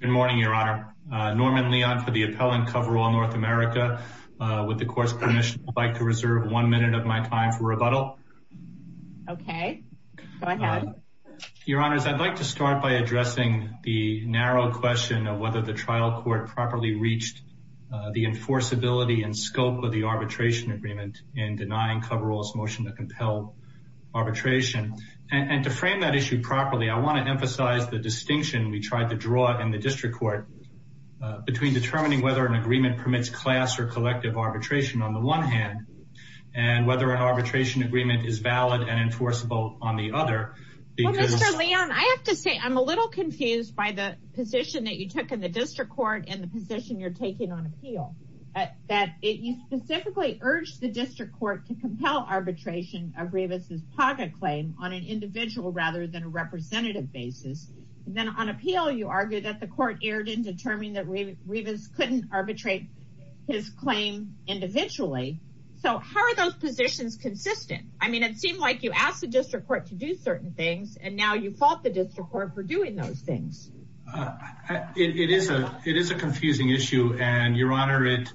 Good morning, Your Honor. Norman Leon for the appellant, Coverall North America. With the court's permission, I'd like to reserve one minute of my time for rebuttal. Okay. Go ahead. Your Honors, I'd like to start by addressing the narrow question of whether the trial court properly reached the enforceability and scope of the arbitration agreement in denying Coverall's motion to compel arbitration. And to frame that issue properly, I want to emphasize the distinction we tried to draw in the district court between determining whether an agreement permits class or collective arbitration on the one hand, and whether an arbitration agreement is valid and enforceable on the other. Well, Mr. Leon, I have to say I'm a little confused by the position that you took in the district court and the position you're taking on appeal. That you specifically urged the district court to compel arbitration of Rivas' pocket claim on an individual rather than a representative basis. And then on appeal, you argued that the court erred in determining that Rivas couldn't arbitrate his claim individually. So how are those positions consistent? I mean, it seemed like you asked the district court to do certain things, and now you fault the district court for doing those things. It is a confusing issue, and, Your Honor, it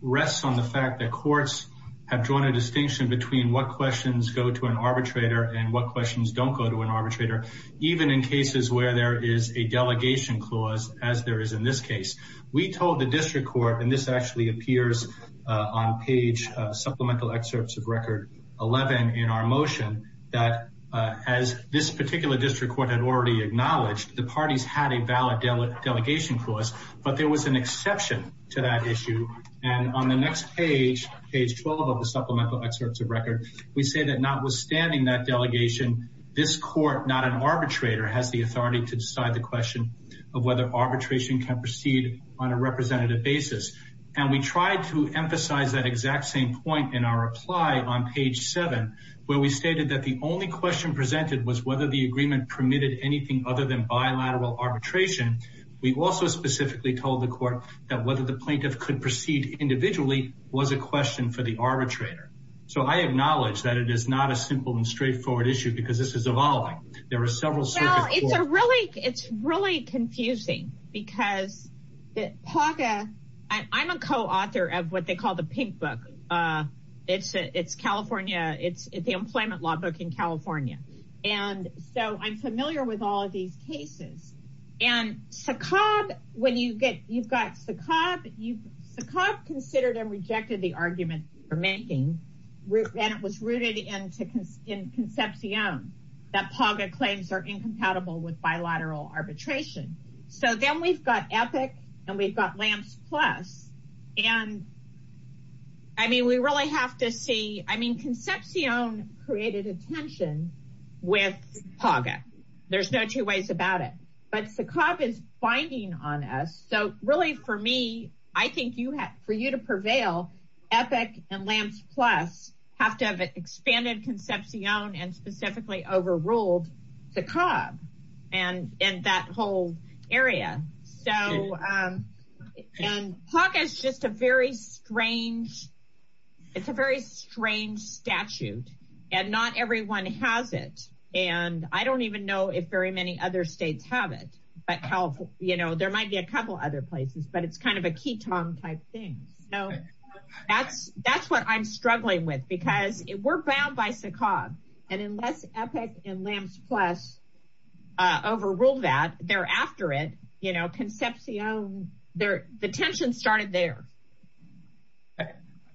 rests on the fact that courts have drawn a distinction between what questions go to an arbitrator and what questions don't go to an arbitrator, even in cases where there is a delegation clause, as there is in this case. We told the district court, and this actually appears on page Supplemental Excerpts of Record 11 in our motion, that as this particular district court had already acknowledged, the parties had a valid delegation clause, but there was an exception to that issue. And on the next page, page 12 of the Supplemental Excerpts of Record, we say that notwithstanding that delegation, this court, not an arbitrator, has the authority to decide the question of whether arbitration can proceed on a representative basis. And we tried to emphasize that exact same point in our reply on page 7, where we stated that the only question presented was whether the agreement permitted anything other than bilateral arbitration. We also specifically told the court that whether the plaintiff could proceed individually was a question for the arbitrator. So I acknowledge that it is not a simple and straightforward issue, because this is evolving. Well, it's really confusing, because I'm a co-author of what they call the Pink Book. It's California. It's the employment law book in California. And so I'm familiar with all of these cases. And Saqqaab, when you get, you've got Saqqaab, Saqqaab considered and rejected the argument for making, and it was rooted in Concepcion, that PAGA claims are incompatible with bilateral arbitration. So then we've got EPIC, and we've got LAMPS Plus. And I mean, we really have to see, I mean, Concepcion created a tension with PAGA. There's no two ways about it. But Saqqaab is binding on us. So really, for me, I think for you to prevail, EPIC and LAMPS Plus have to have expanded Concepcion and specifically overruled Saqqaab and that whole area. So, and PAGA is just a very strange, it's a very strange statute. And not everyone has it. And I don't even know if very many other states have it. But how, you know, there might be a couple other places, but it's kind of a key tongue type thing. So that's, that's what I'm struggling with, because we're bound by Saqqaab. And unless EPIC and LAMPS Plus overruled that, thereafter it, you know, Concepcion, the tension started there.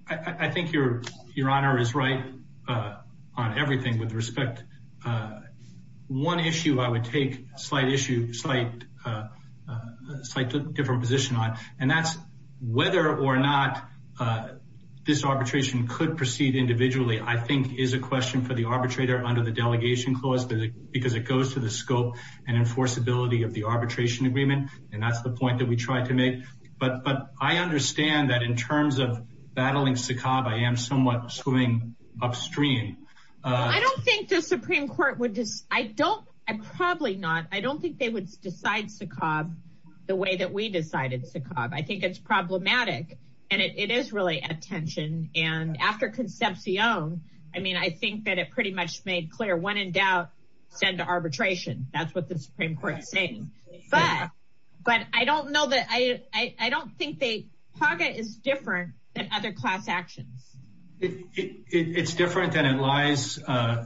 I think your, your honor is right on everything with respect. One issue I would take, slight issue, slight, slight different position on, and that's whether or not this arbitration could proceed individually, I think is a question for the arbitrator under the delegation clause, because it goes to the scope and enforceability of the arbitration agreement. And that's the point that we tried to make. But, but I understand that in terms of battling Saqqaab, I am somewhat swing upstream. I don't think the Supreme Court would just, I don't, I probably not. I don't think they would decide Saqqaab the way that we decided Saqqaab. I think it's problematic. And it is really a tension. And after Concepcion, I mean, I think that it pretty much made clear when in doubt, send to arbitration. That's what the Supreme Court is saying. But, but I don't know that I, I don't think they, PAGA is different than other class actions. It's different than it lies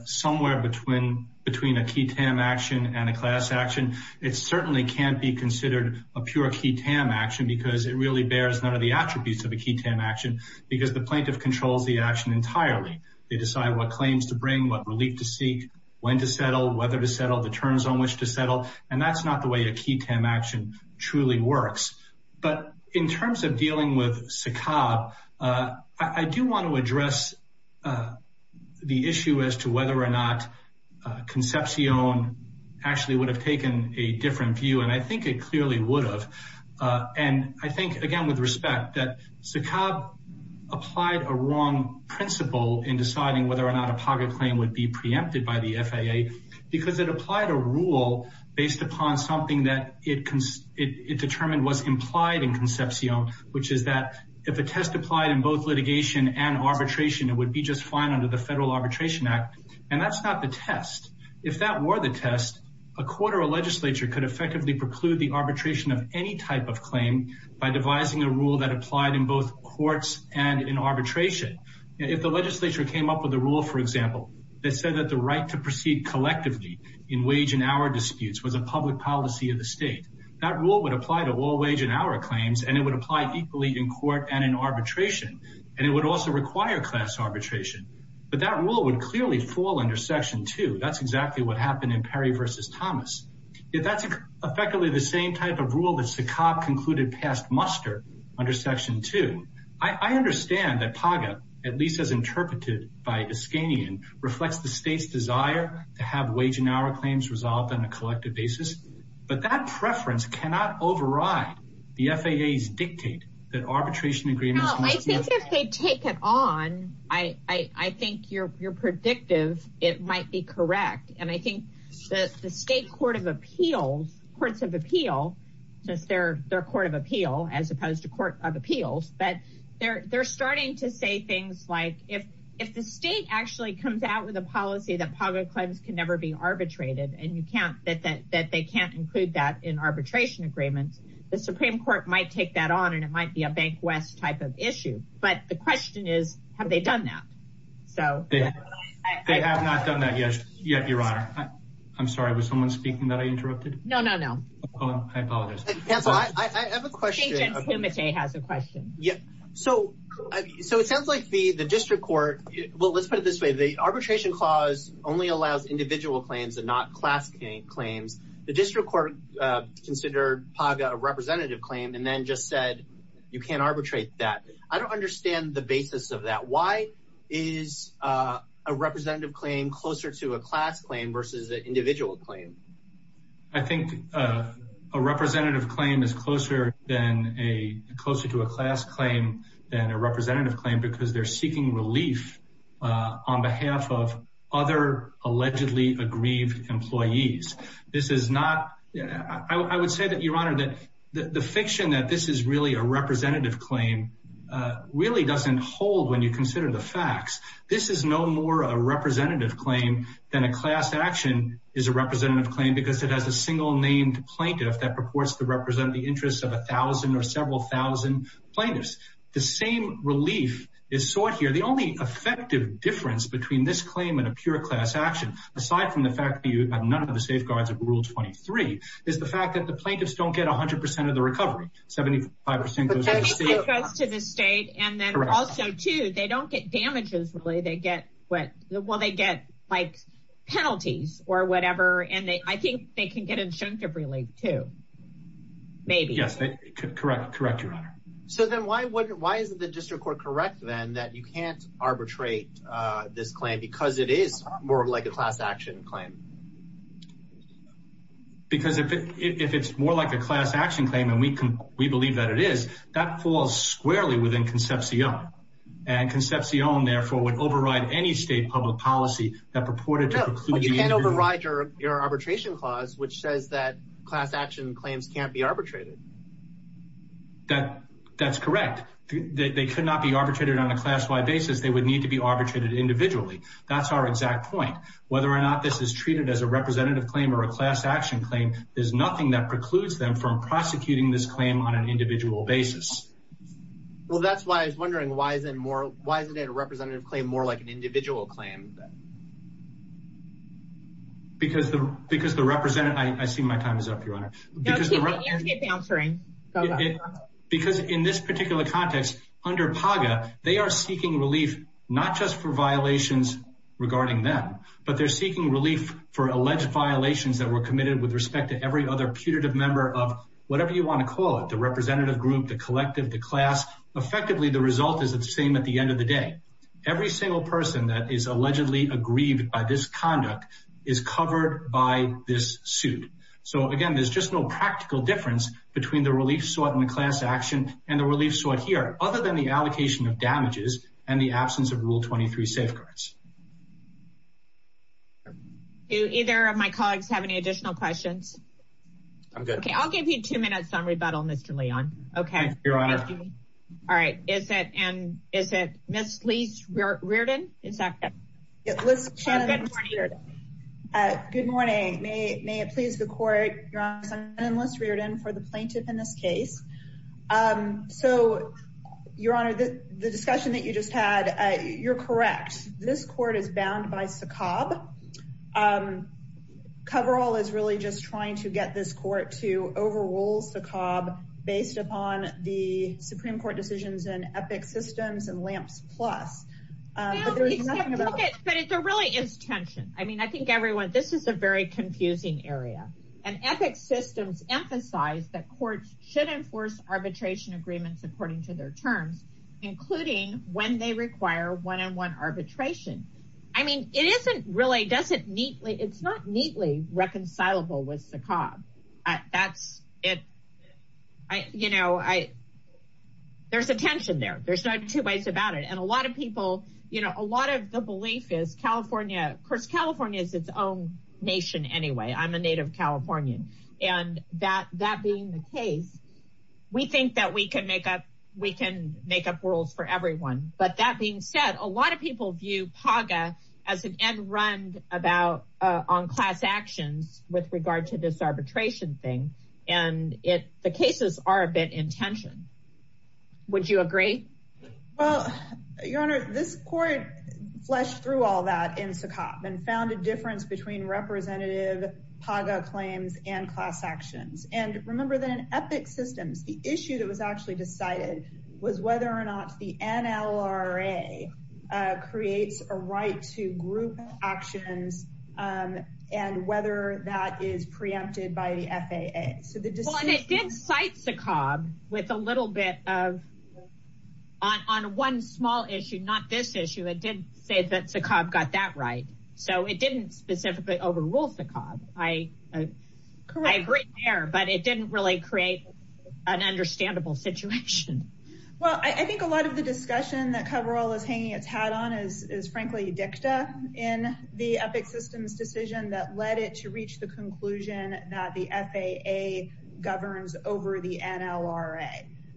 somewhere between, between a key TAM action and a class action. It certainly can't be considered a pure key TAM action because it really bears none of the attributes of a key TAM action because the plaintiff controls the action entirely. They decide what claims to bring, what relief to seek, when to settle, whether to settle, the terms on which to settle. And that's not the way a key TAM action truly works. But in terms of dealing with Saqqaab, I do want to address the issue as to whether or not Concepcion actually would have taken a different view. And I think it clearly would have. And I think, again, with respect that Saqqaab applied a wrong principle in deciding whether or not a PAGA claim would be preempted by the FAA because it applied a rule based upon something that it determined was implied in Concepcion, which is that if a test applied in both litigation and arbitration, it would be just fine under the Federal Arbitration Act. And that's not the test. If that were the test, a court or a legislature could effectively preclude the arbitration of any type of claim by devising a rule that applied in both courts and in arbitration. If the legislature came up with a rule, for example, that said that the right to proceed collectively in wage and hour disputes was a public policy of the state, that rule would apply to all wage and hour claims, and it would apply equally in court and in arbitration. And it would also require class arbitration. But that rule would clearly fall under Section 2. That's exactly what happened in Perry v. Thomas. If that's effectively the same type of rule that Saqqaab concluded passed muster under Section 2, I understand that PAGA, at least as interpreted by Iskanian, reflects the state's desire to have wage and hour claims resolved on a collective basis. But that preference cannot override the FAA's dictate that arbitration agreements must be... They have not done that yet, Your Honor. I'm sorry, was someone speaking that I interrupted? No, no, no. Oh, I apologize. Counsel, I have a question. Agent Timotei has a question. So it sounds like the district court... Well, let's put it this way. The arbitration clause only allows individual claims and not class claims. The district court considered PAGA a representative claim and then just said you can't arbitrate that. I don't understand the basis of that. Why is a representative claim closer to a class claim versus an individual claim? I think a representative claim is closer to a class claim than a representative claim because they're seeking relief on behalf of other allegedly aggrieved employees. This is not... I would say that, Your Honor, that the fiction that this is really a representative claim really doesn't hold when you consider the facts. This is no more a representative claim than a class action is a representative claim because it has a single named plaintiff that purports to represent the interests of a thousand or several thousand plaintiffs. The same relief is sought here. The only effective difference between this claim and a pure class action, aside from the fact that you have none of the safeguards of Rule 23, is the fact that the plaintiffs don't get 100% of the recovery. 75% goes to the state. 75% goes to the state and then also, too, they don't get damages, really. They get what? Well, they get like penalties or whatever. And I think they can get injunctive relief, too. Maybe. Yes, correct. Correct, Your Honor. So then why isn't the district court correct then that you can't arbitrate this claim because it is more like a class action claim? Because if it's more like a class action claim, and we believe that it is, that falls squarely within Concepcion. And Concepcion, therefore, would override any state public policy that purported to preclude... No, you can't override your arbitration clause which says that class action claims can't be arbitrated. That's correct. They could not be arbitrated on a class-wide basis. They would need to be arbitrated individually. That's our exact point. Whether or not this is treated as a representative claim or a class action claim, there's nothing that precludes them from prosecuting this claim on an individual basis. Well, that's why I was wondering, why isn't it a representative claim more like an individual claim? Because the representative... I see my time is up, Your Honor. No, keep answering. Because in this particular context, under PAGA, they are seeking relief not just for violations regarding them, but they're seeking relief for alleged violations that were committed with respect to every other putative member of whatever you want to call it. The representative group, the collective, the class. Effectively, the result is the same at the end of the day. Every single person that is allegedly aggrieved by this conduct is covered by this suit. So, again, there's just no practical difference between the relief sought in the class action and the relief sought here, other than the allocation of damages and the absence of Rule 23 safeguards. Do either of my colleagues have any additional questions? I'm good. Okay, I'll give you two minutes on rebuttal, Mr. Leon. Okay. Thank you, Your Honor. All right. Is it Ms. Lise Reardon? Good morning. May it please the Court, Your Honor. I'm Lise Reardon for the plaintiff in this case. So, Your Honor, the discussion that you just had, you're correct. This court is bound by SACOB. COVERALL is really just trying to get this court to overrule SACOB based upon the Supreme Court decisions in EPIC systems and LAMPS Plus. But there really is tension. I mean, I think everyone, this is a very confusing area. And EPIC systems emphasize that courts should enforce arbitration agreements according to their terms, including when they require one-on-one arbitration. I mean, it isn't really, it's not neatly reconcilable with SACOB. That's it. You know, there's a tension there. There's not two ways about it. And a lot of people, you know, a lot of the belief is California, of course, California is its own nation anyway. I'm a native Californian. And that being the case, we think that we can make up rules for everyone. But that being said, a lot of people view PAGA as an end-run on class actions with regard to this arbitration thing. And the cases are a bit in tension. Would you agree? Well, Your Honor, this court fleshed through all that in SACOB and found a difference between representative PAGA claims and class actions. And remember that in EPIC systems, the issue that was actually decided was whether or not the NLRA creates a right to group actions and whether that is preempted by the FAA. And it did cite SACOB with a little bit of, on one small issue, not this issue, it did say that SACOB got that right. So it didn't specifically overrule SACOB. I agree there, but it didn't really create an understandable situation. Well, I think a lot of the discussion that Cabral is hanging its hat on is frankly dicta in the EPIC systems decision that led it to reach the conclusion that the FAA governs over the NLRA.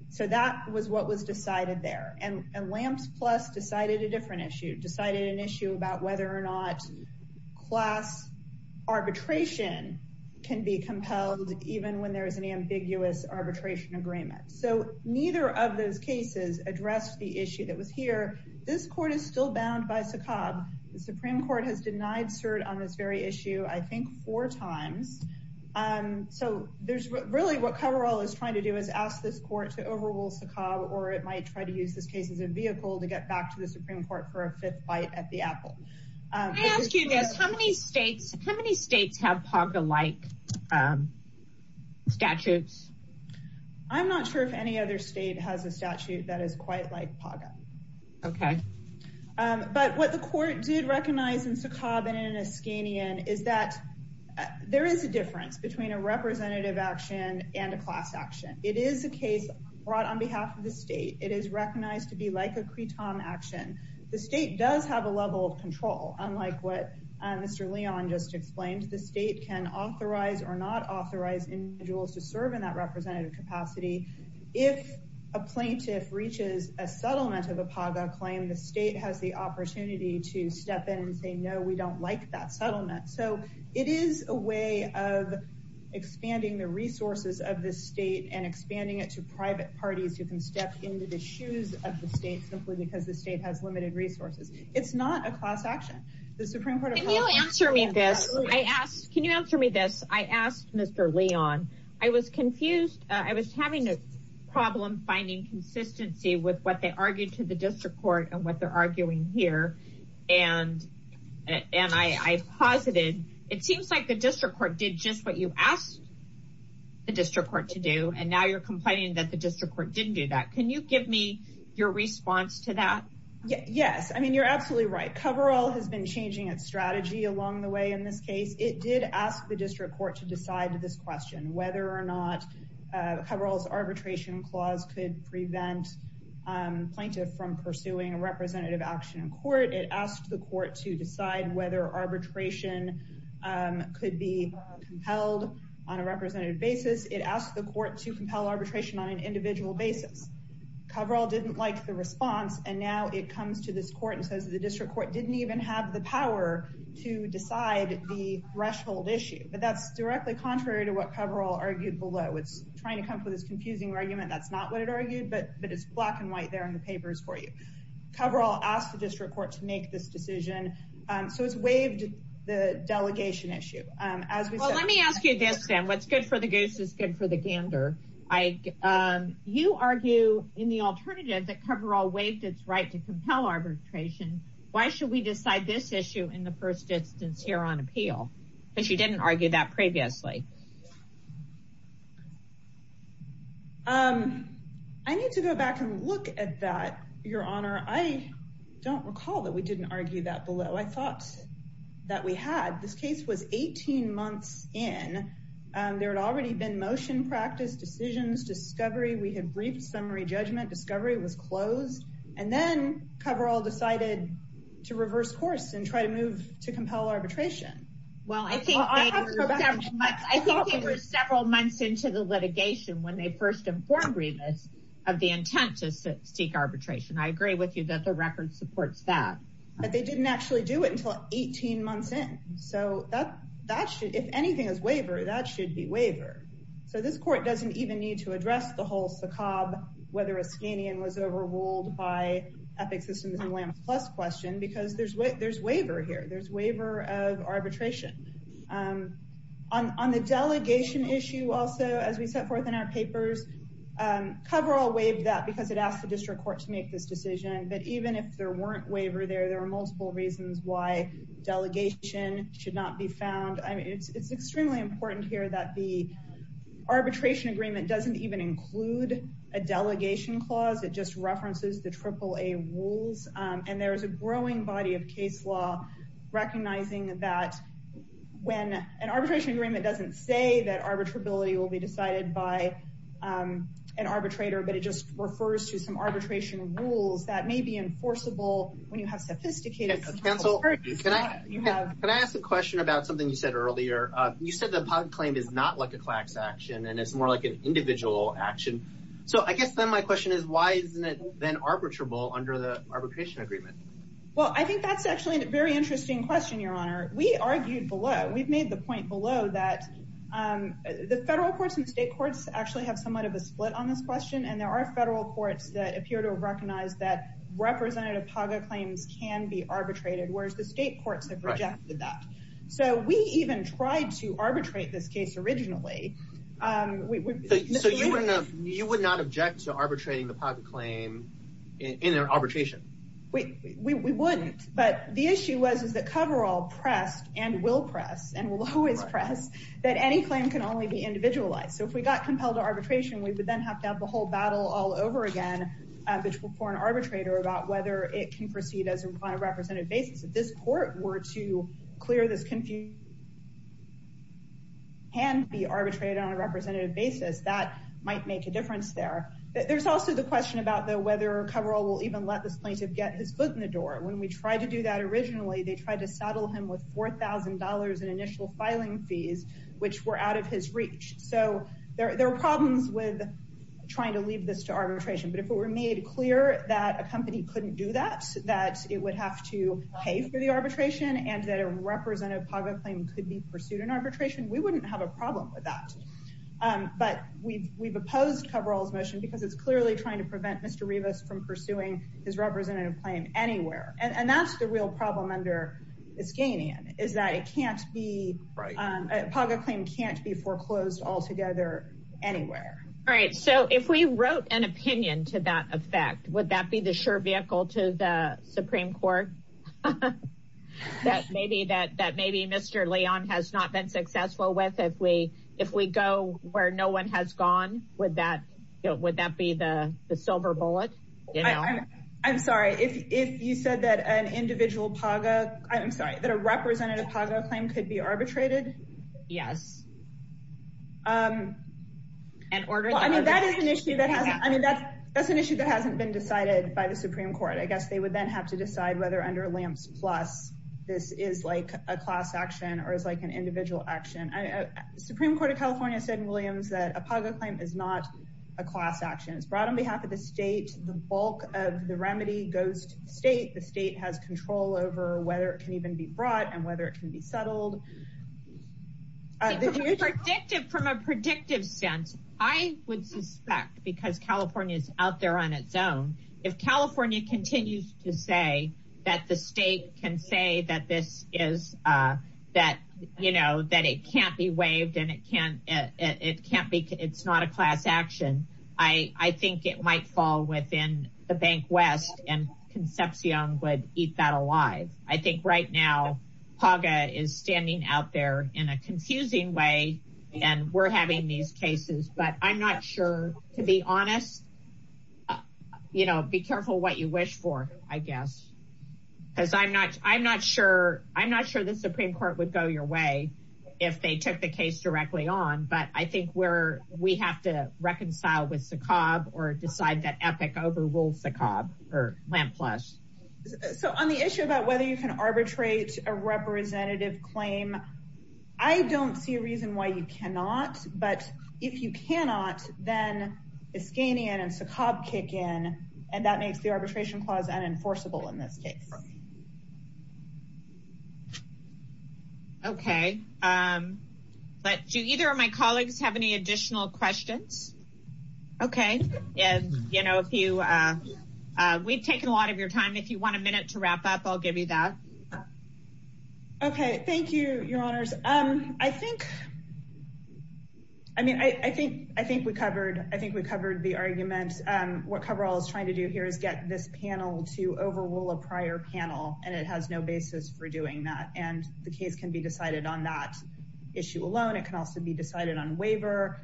So that was what was decided there. And LAMPS Plus decided a different issue, decided an issue about whether or not class arbitration can be compelled, even when there is an ambiguous arbitration agreement. So neither of those cases addressed the issue that was here. This court is still bound by SACOB. The Supreme Court has denied cert on this very issue, I think, four times. So there's really what Cabral is trying to do is ask this court to overrule SACOB or it might try to use this case as a vehicle to get back to the Supreme Court for a fifth bite at the apple. Can I ask you this, how many states have PAGA-like statutes? I'm not sure if any other state has a statute that is quite like PAGA. Okay. But what the court did recognize in SACOB and in Eskanian is that there is a difference between a representative action and a class action. It is a case brought on behalf of the state. It is recognized to be like a CRETOM action. The state does have a level of control, unlike what Mr. Leon just explained. The state can authorize or not authorize individuals to serve in that representative capacity. If a plaintiff reaches a settlement of a PAGA claim, the state has the opportunity to step in and say, no, we don't like that settlement. So it is a way of expanding the resources of the state and expanding it to private parties who can step into the shoes of the state simply because the state has limited resources. It's not a class action. Can you answer me this? Can you answer me this? I asked Mr. Leon. I was confused. I was having a problem finding consistency with what they argued to the district court and what they're arguing here. And I posited, it seems like the district court did just what you asked the district court to do. And now you're complaining that the district court didn't do that. Can you give me your response to that? Yes. I mean, you're absolutely right. Coverall has been changing its strategy along the way in this case. It did ask the district court to decide this question, whether or not coveralls arbitration clause could prevent plaintiff from pursuing a representative action in court. It asked the court to decide whether arbitration could be held on a representative basis. It asked the court to compel arbitration on an individual basis. Coverall didn't like the response. And now it comes to this court and says the district court didn't even have the power to decide the threshold issue. But that's directly contrary to what Coverall argued below. It's trying to come up with this confusing argument. That's not what it argued. But it's black and white there in the papers for you. Coverall asked the district court to make this decision. So it's waived the delegation issue. Well, let me ask you this then. What's good for the goose is good for the gander. You argue in the alternative that Coverall waived its right to compel arbitration. Why should we decide this issue in the first instance here on appeal? Because you didn't argue that previously. I need to go back and look at that, Your Honor. I don't recall that we didn't argue that below. I thought that we had. This case was 18 months in. There had already been motion practice, decisions, discovery. We had briefed summary judgment. Discovery was closed. And then Coverall decided to reverse course and try to move to compel arbitration. Well, I think they were several months into the litigation when they first informed Revis of the intent to seek arbitration. I agree with you that the record supports that. But they didn't actually do it until 18 months in. So if anything is waiver, that should be waiver. So this court doesn't even need to address the whole SACOB, whether a Skanian was overruled by Epic Systems and Lamb's Plus question, because there's waiver here. There's waiver of arbitration. On the delegation issue also, as we set forth in our papers, Coverall waived that because it asked the district court to make this decision. But even if there weren't waiver there, there are multiple reasons why delegation should not be found. I mean, it's extremely important here that the arbitration agreement doesn't even include a delegation clause. It just references the AAA rules. And there is a growing body of case law recognizing that when an arbitration agreement doesn't say that arbitrability will be decided by an arbitrator, but it just refers to some arbitration rules that may be enforceable when you have sophisticated. Can I ask a question about something you said earlier? You said the PAGA claim is not like a CLAX action, and it's more like an individual action. So I guess then my question is, why isn't it then arbitrable under the arbitration agreement? Well, I think that's actually a very interesting question, Your Honor. We argued below, we've made the point below that the federal courts and state courts actually have somewhat of a split on this question. And there are federal courts that appear to recognize that representative PAGA claims can be arbitrated, whereas the state courts have rejected that. So we even tried to arbitrate this case originally. So you would not object to arbitrating the PAGA claim in an arbitration? We wouldn't, but the issue was that Coverall pressed and will press and will always press that any claim can only be individualized. So if we got compelled to arbitration, we would then have to have the whole battle all over again for an arbitrator about whether it can proceed on a representative basis. If this court were to clear this confusion and be arbitrated on a representative basis, that might make a difference there. There's also the question about whether Coverall will even let this plaintiff get his foot in the door. When we tried to do that originally, they tried to saddle him with $4,000 in initial filing fees, which were out of his reach. So there are problems with trying to leave this to arbitration. But if it were made clear that a company couldn't do that, that it would have to pay for the arbitration and that a representative PAGA claim could be pursued in arbitration, we wouldn't have a problem with that. But we've opposed Coverall's motion because it's clearly trying to prevent Mr. Rivas from pursuing his representative claim anywhere. And that's the real problem under Iskanian, is that a PAGA claim can't be foreclosed altogether anywhere. All right. So if we wrote an opinion to that effect, would that be the sure vehicle to the Supreme Court? That maybe Mr. Leon has not been successful with. If we go where no one has gone, would that be the silver bullet? I'm sorry. If you said that an individual PAGA, I'm sorry, that a representative PAGA claim could be arbitrated? Yes. Well, I mean, that is an issue that hasn't been decided by the Supreme Court. I guess they would then have to decide whether under Lamps Plus this is like a class action or is like an individual action. The Supreme Court of California said in Williams that a PAGA claim is not a class action. It's brought on behalf of the state. The bulk of the remedy goes to the state. The state has control over whether it can even be brought and whether it can be settled. From a predictive sense, I would suspect, because California is out there on its own, if California continues to say that the state can say that it can't be waived and it's not a class action, I think it might fall within the Bank West and Concepcion would eat that alive. I think right now PAGA is standing out there in a confusing way and we're having these cases. But I'm not sure, to be honest, you know, be careful what you wish for, I guess, because I'm not sure the Supreme Court would go your way if they took the case directly on. But I think we have to reconcile with SACOB or decide that EPIC overrules SACOB or Lamps Plus. So on the issue about whether you can arbitrate a representative claim, I don't see a reason why you cannot. But if you cannot, then Iskanian and SACOB kick in and that makes the arbitration clause unenforceable in this case. OK, but do either of my colleagues have any additional questions? OK. And, you know, if you we've taken a lot of your time, if you want a minute to wrap up, I'll give you that. OK, thank you, your honors. I think I mean, I think I think we covered I think we covered the argument. What coverall is trying to do here is get this panel to overrule a prior panel. And it has no basis for doing that. And the case can be decided on that issue alone. It can also be decided on waiver.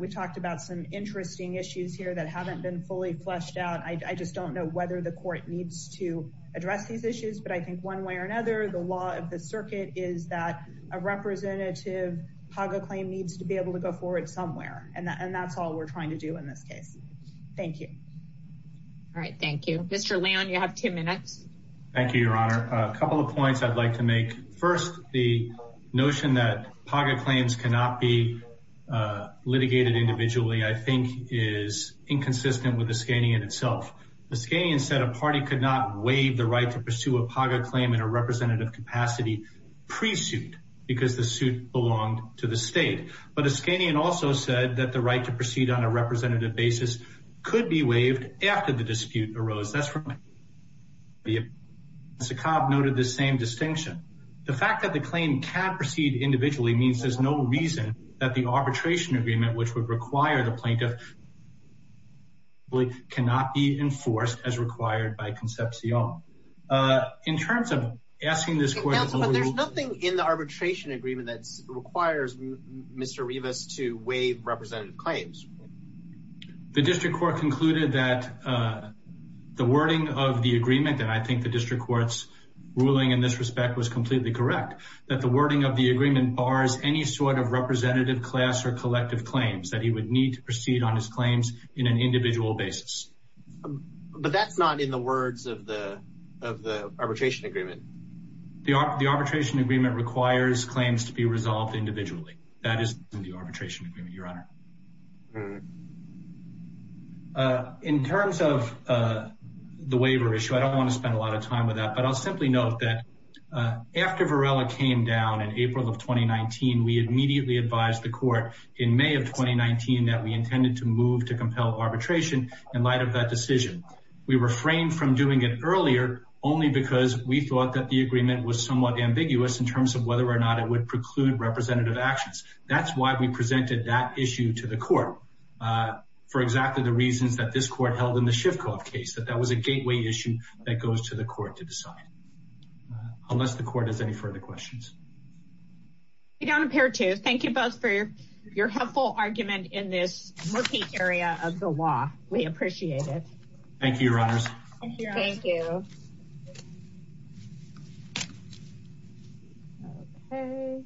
We talked about some interesting issues here that haven't been fully fleshed out. I just don't know whether the court needs to address these issues. But I think one way or another, the law of the circuit is that a representative PAGA claim needs to be able to go forward somewhere. And that's all we're trying to do in this case. Thank you. All right. Thank you, Mr. Leon. You have two minutes. Thank you, your honor. A couple of points I'd like to make. First, the notion that PAGA claims cannot be litigated individually, I think, is inconsistent with Iskanian itself. Iskanian said a party could not waive the right to pursue a PAGA claim in a representative capacity pre-suit because the suit belonged to the state. But Iskanian also said that the right to proceed on a representative basis could be waived after the dispute arose. That's right. Sakab noted the same distinction. The fact that the claim can proceed individually means there's no reason that the arbitration agreement, which would require the plaintiff, cannot be enforced as required by Concepcion in terms of asking this question. But there's nothing in the arbitration agreement that requires Mr. Rivas to waive representative claims. The district court concluded that the wording of the agreement, and I think the district court's ruling in this respect was completely correct, that the wording of the agreement bars any sort of representative class or collective claims that he would need to proceed on his claims in an individual basis. But that's not in the words of the arbitration agreement. The arbitration agreement requires claims to be resolved individually. That is in the arbitration agreement, Your Honor. In terms of the waiver issue, I don't want to spend a lot of time with that, but I'll simply note that after Varela came down in April of 2019, we immediately advised the court in May of 2019 that we intended to move to compel arbitration in light of that decision. We refrained from doing it earlier only because we thought that the agreement was somewhat ambiguous in terms of whether or not it would preclude representative actions. That's why we presented that issue to the court for exactly the reasons that this court held in the Shifkoff case, that that was a gateway issue that goes to the court to decide, unless the court has any further questions. We don't appear to. Thank you both for your helpful argument in this murky area of the law. We appreciate it. Thank you, Your Honors. Thank you.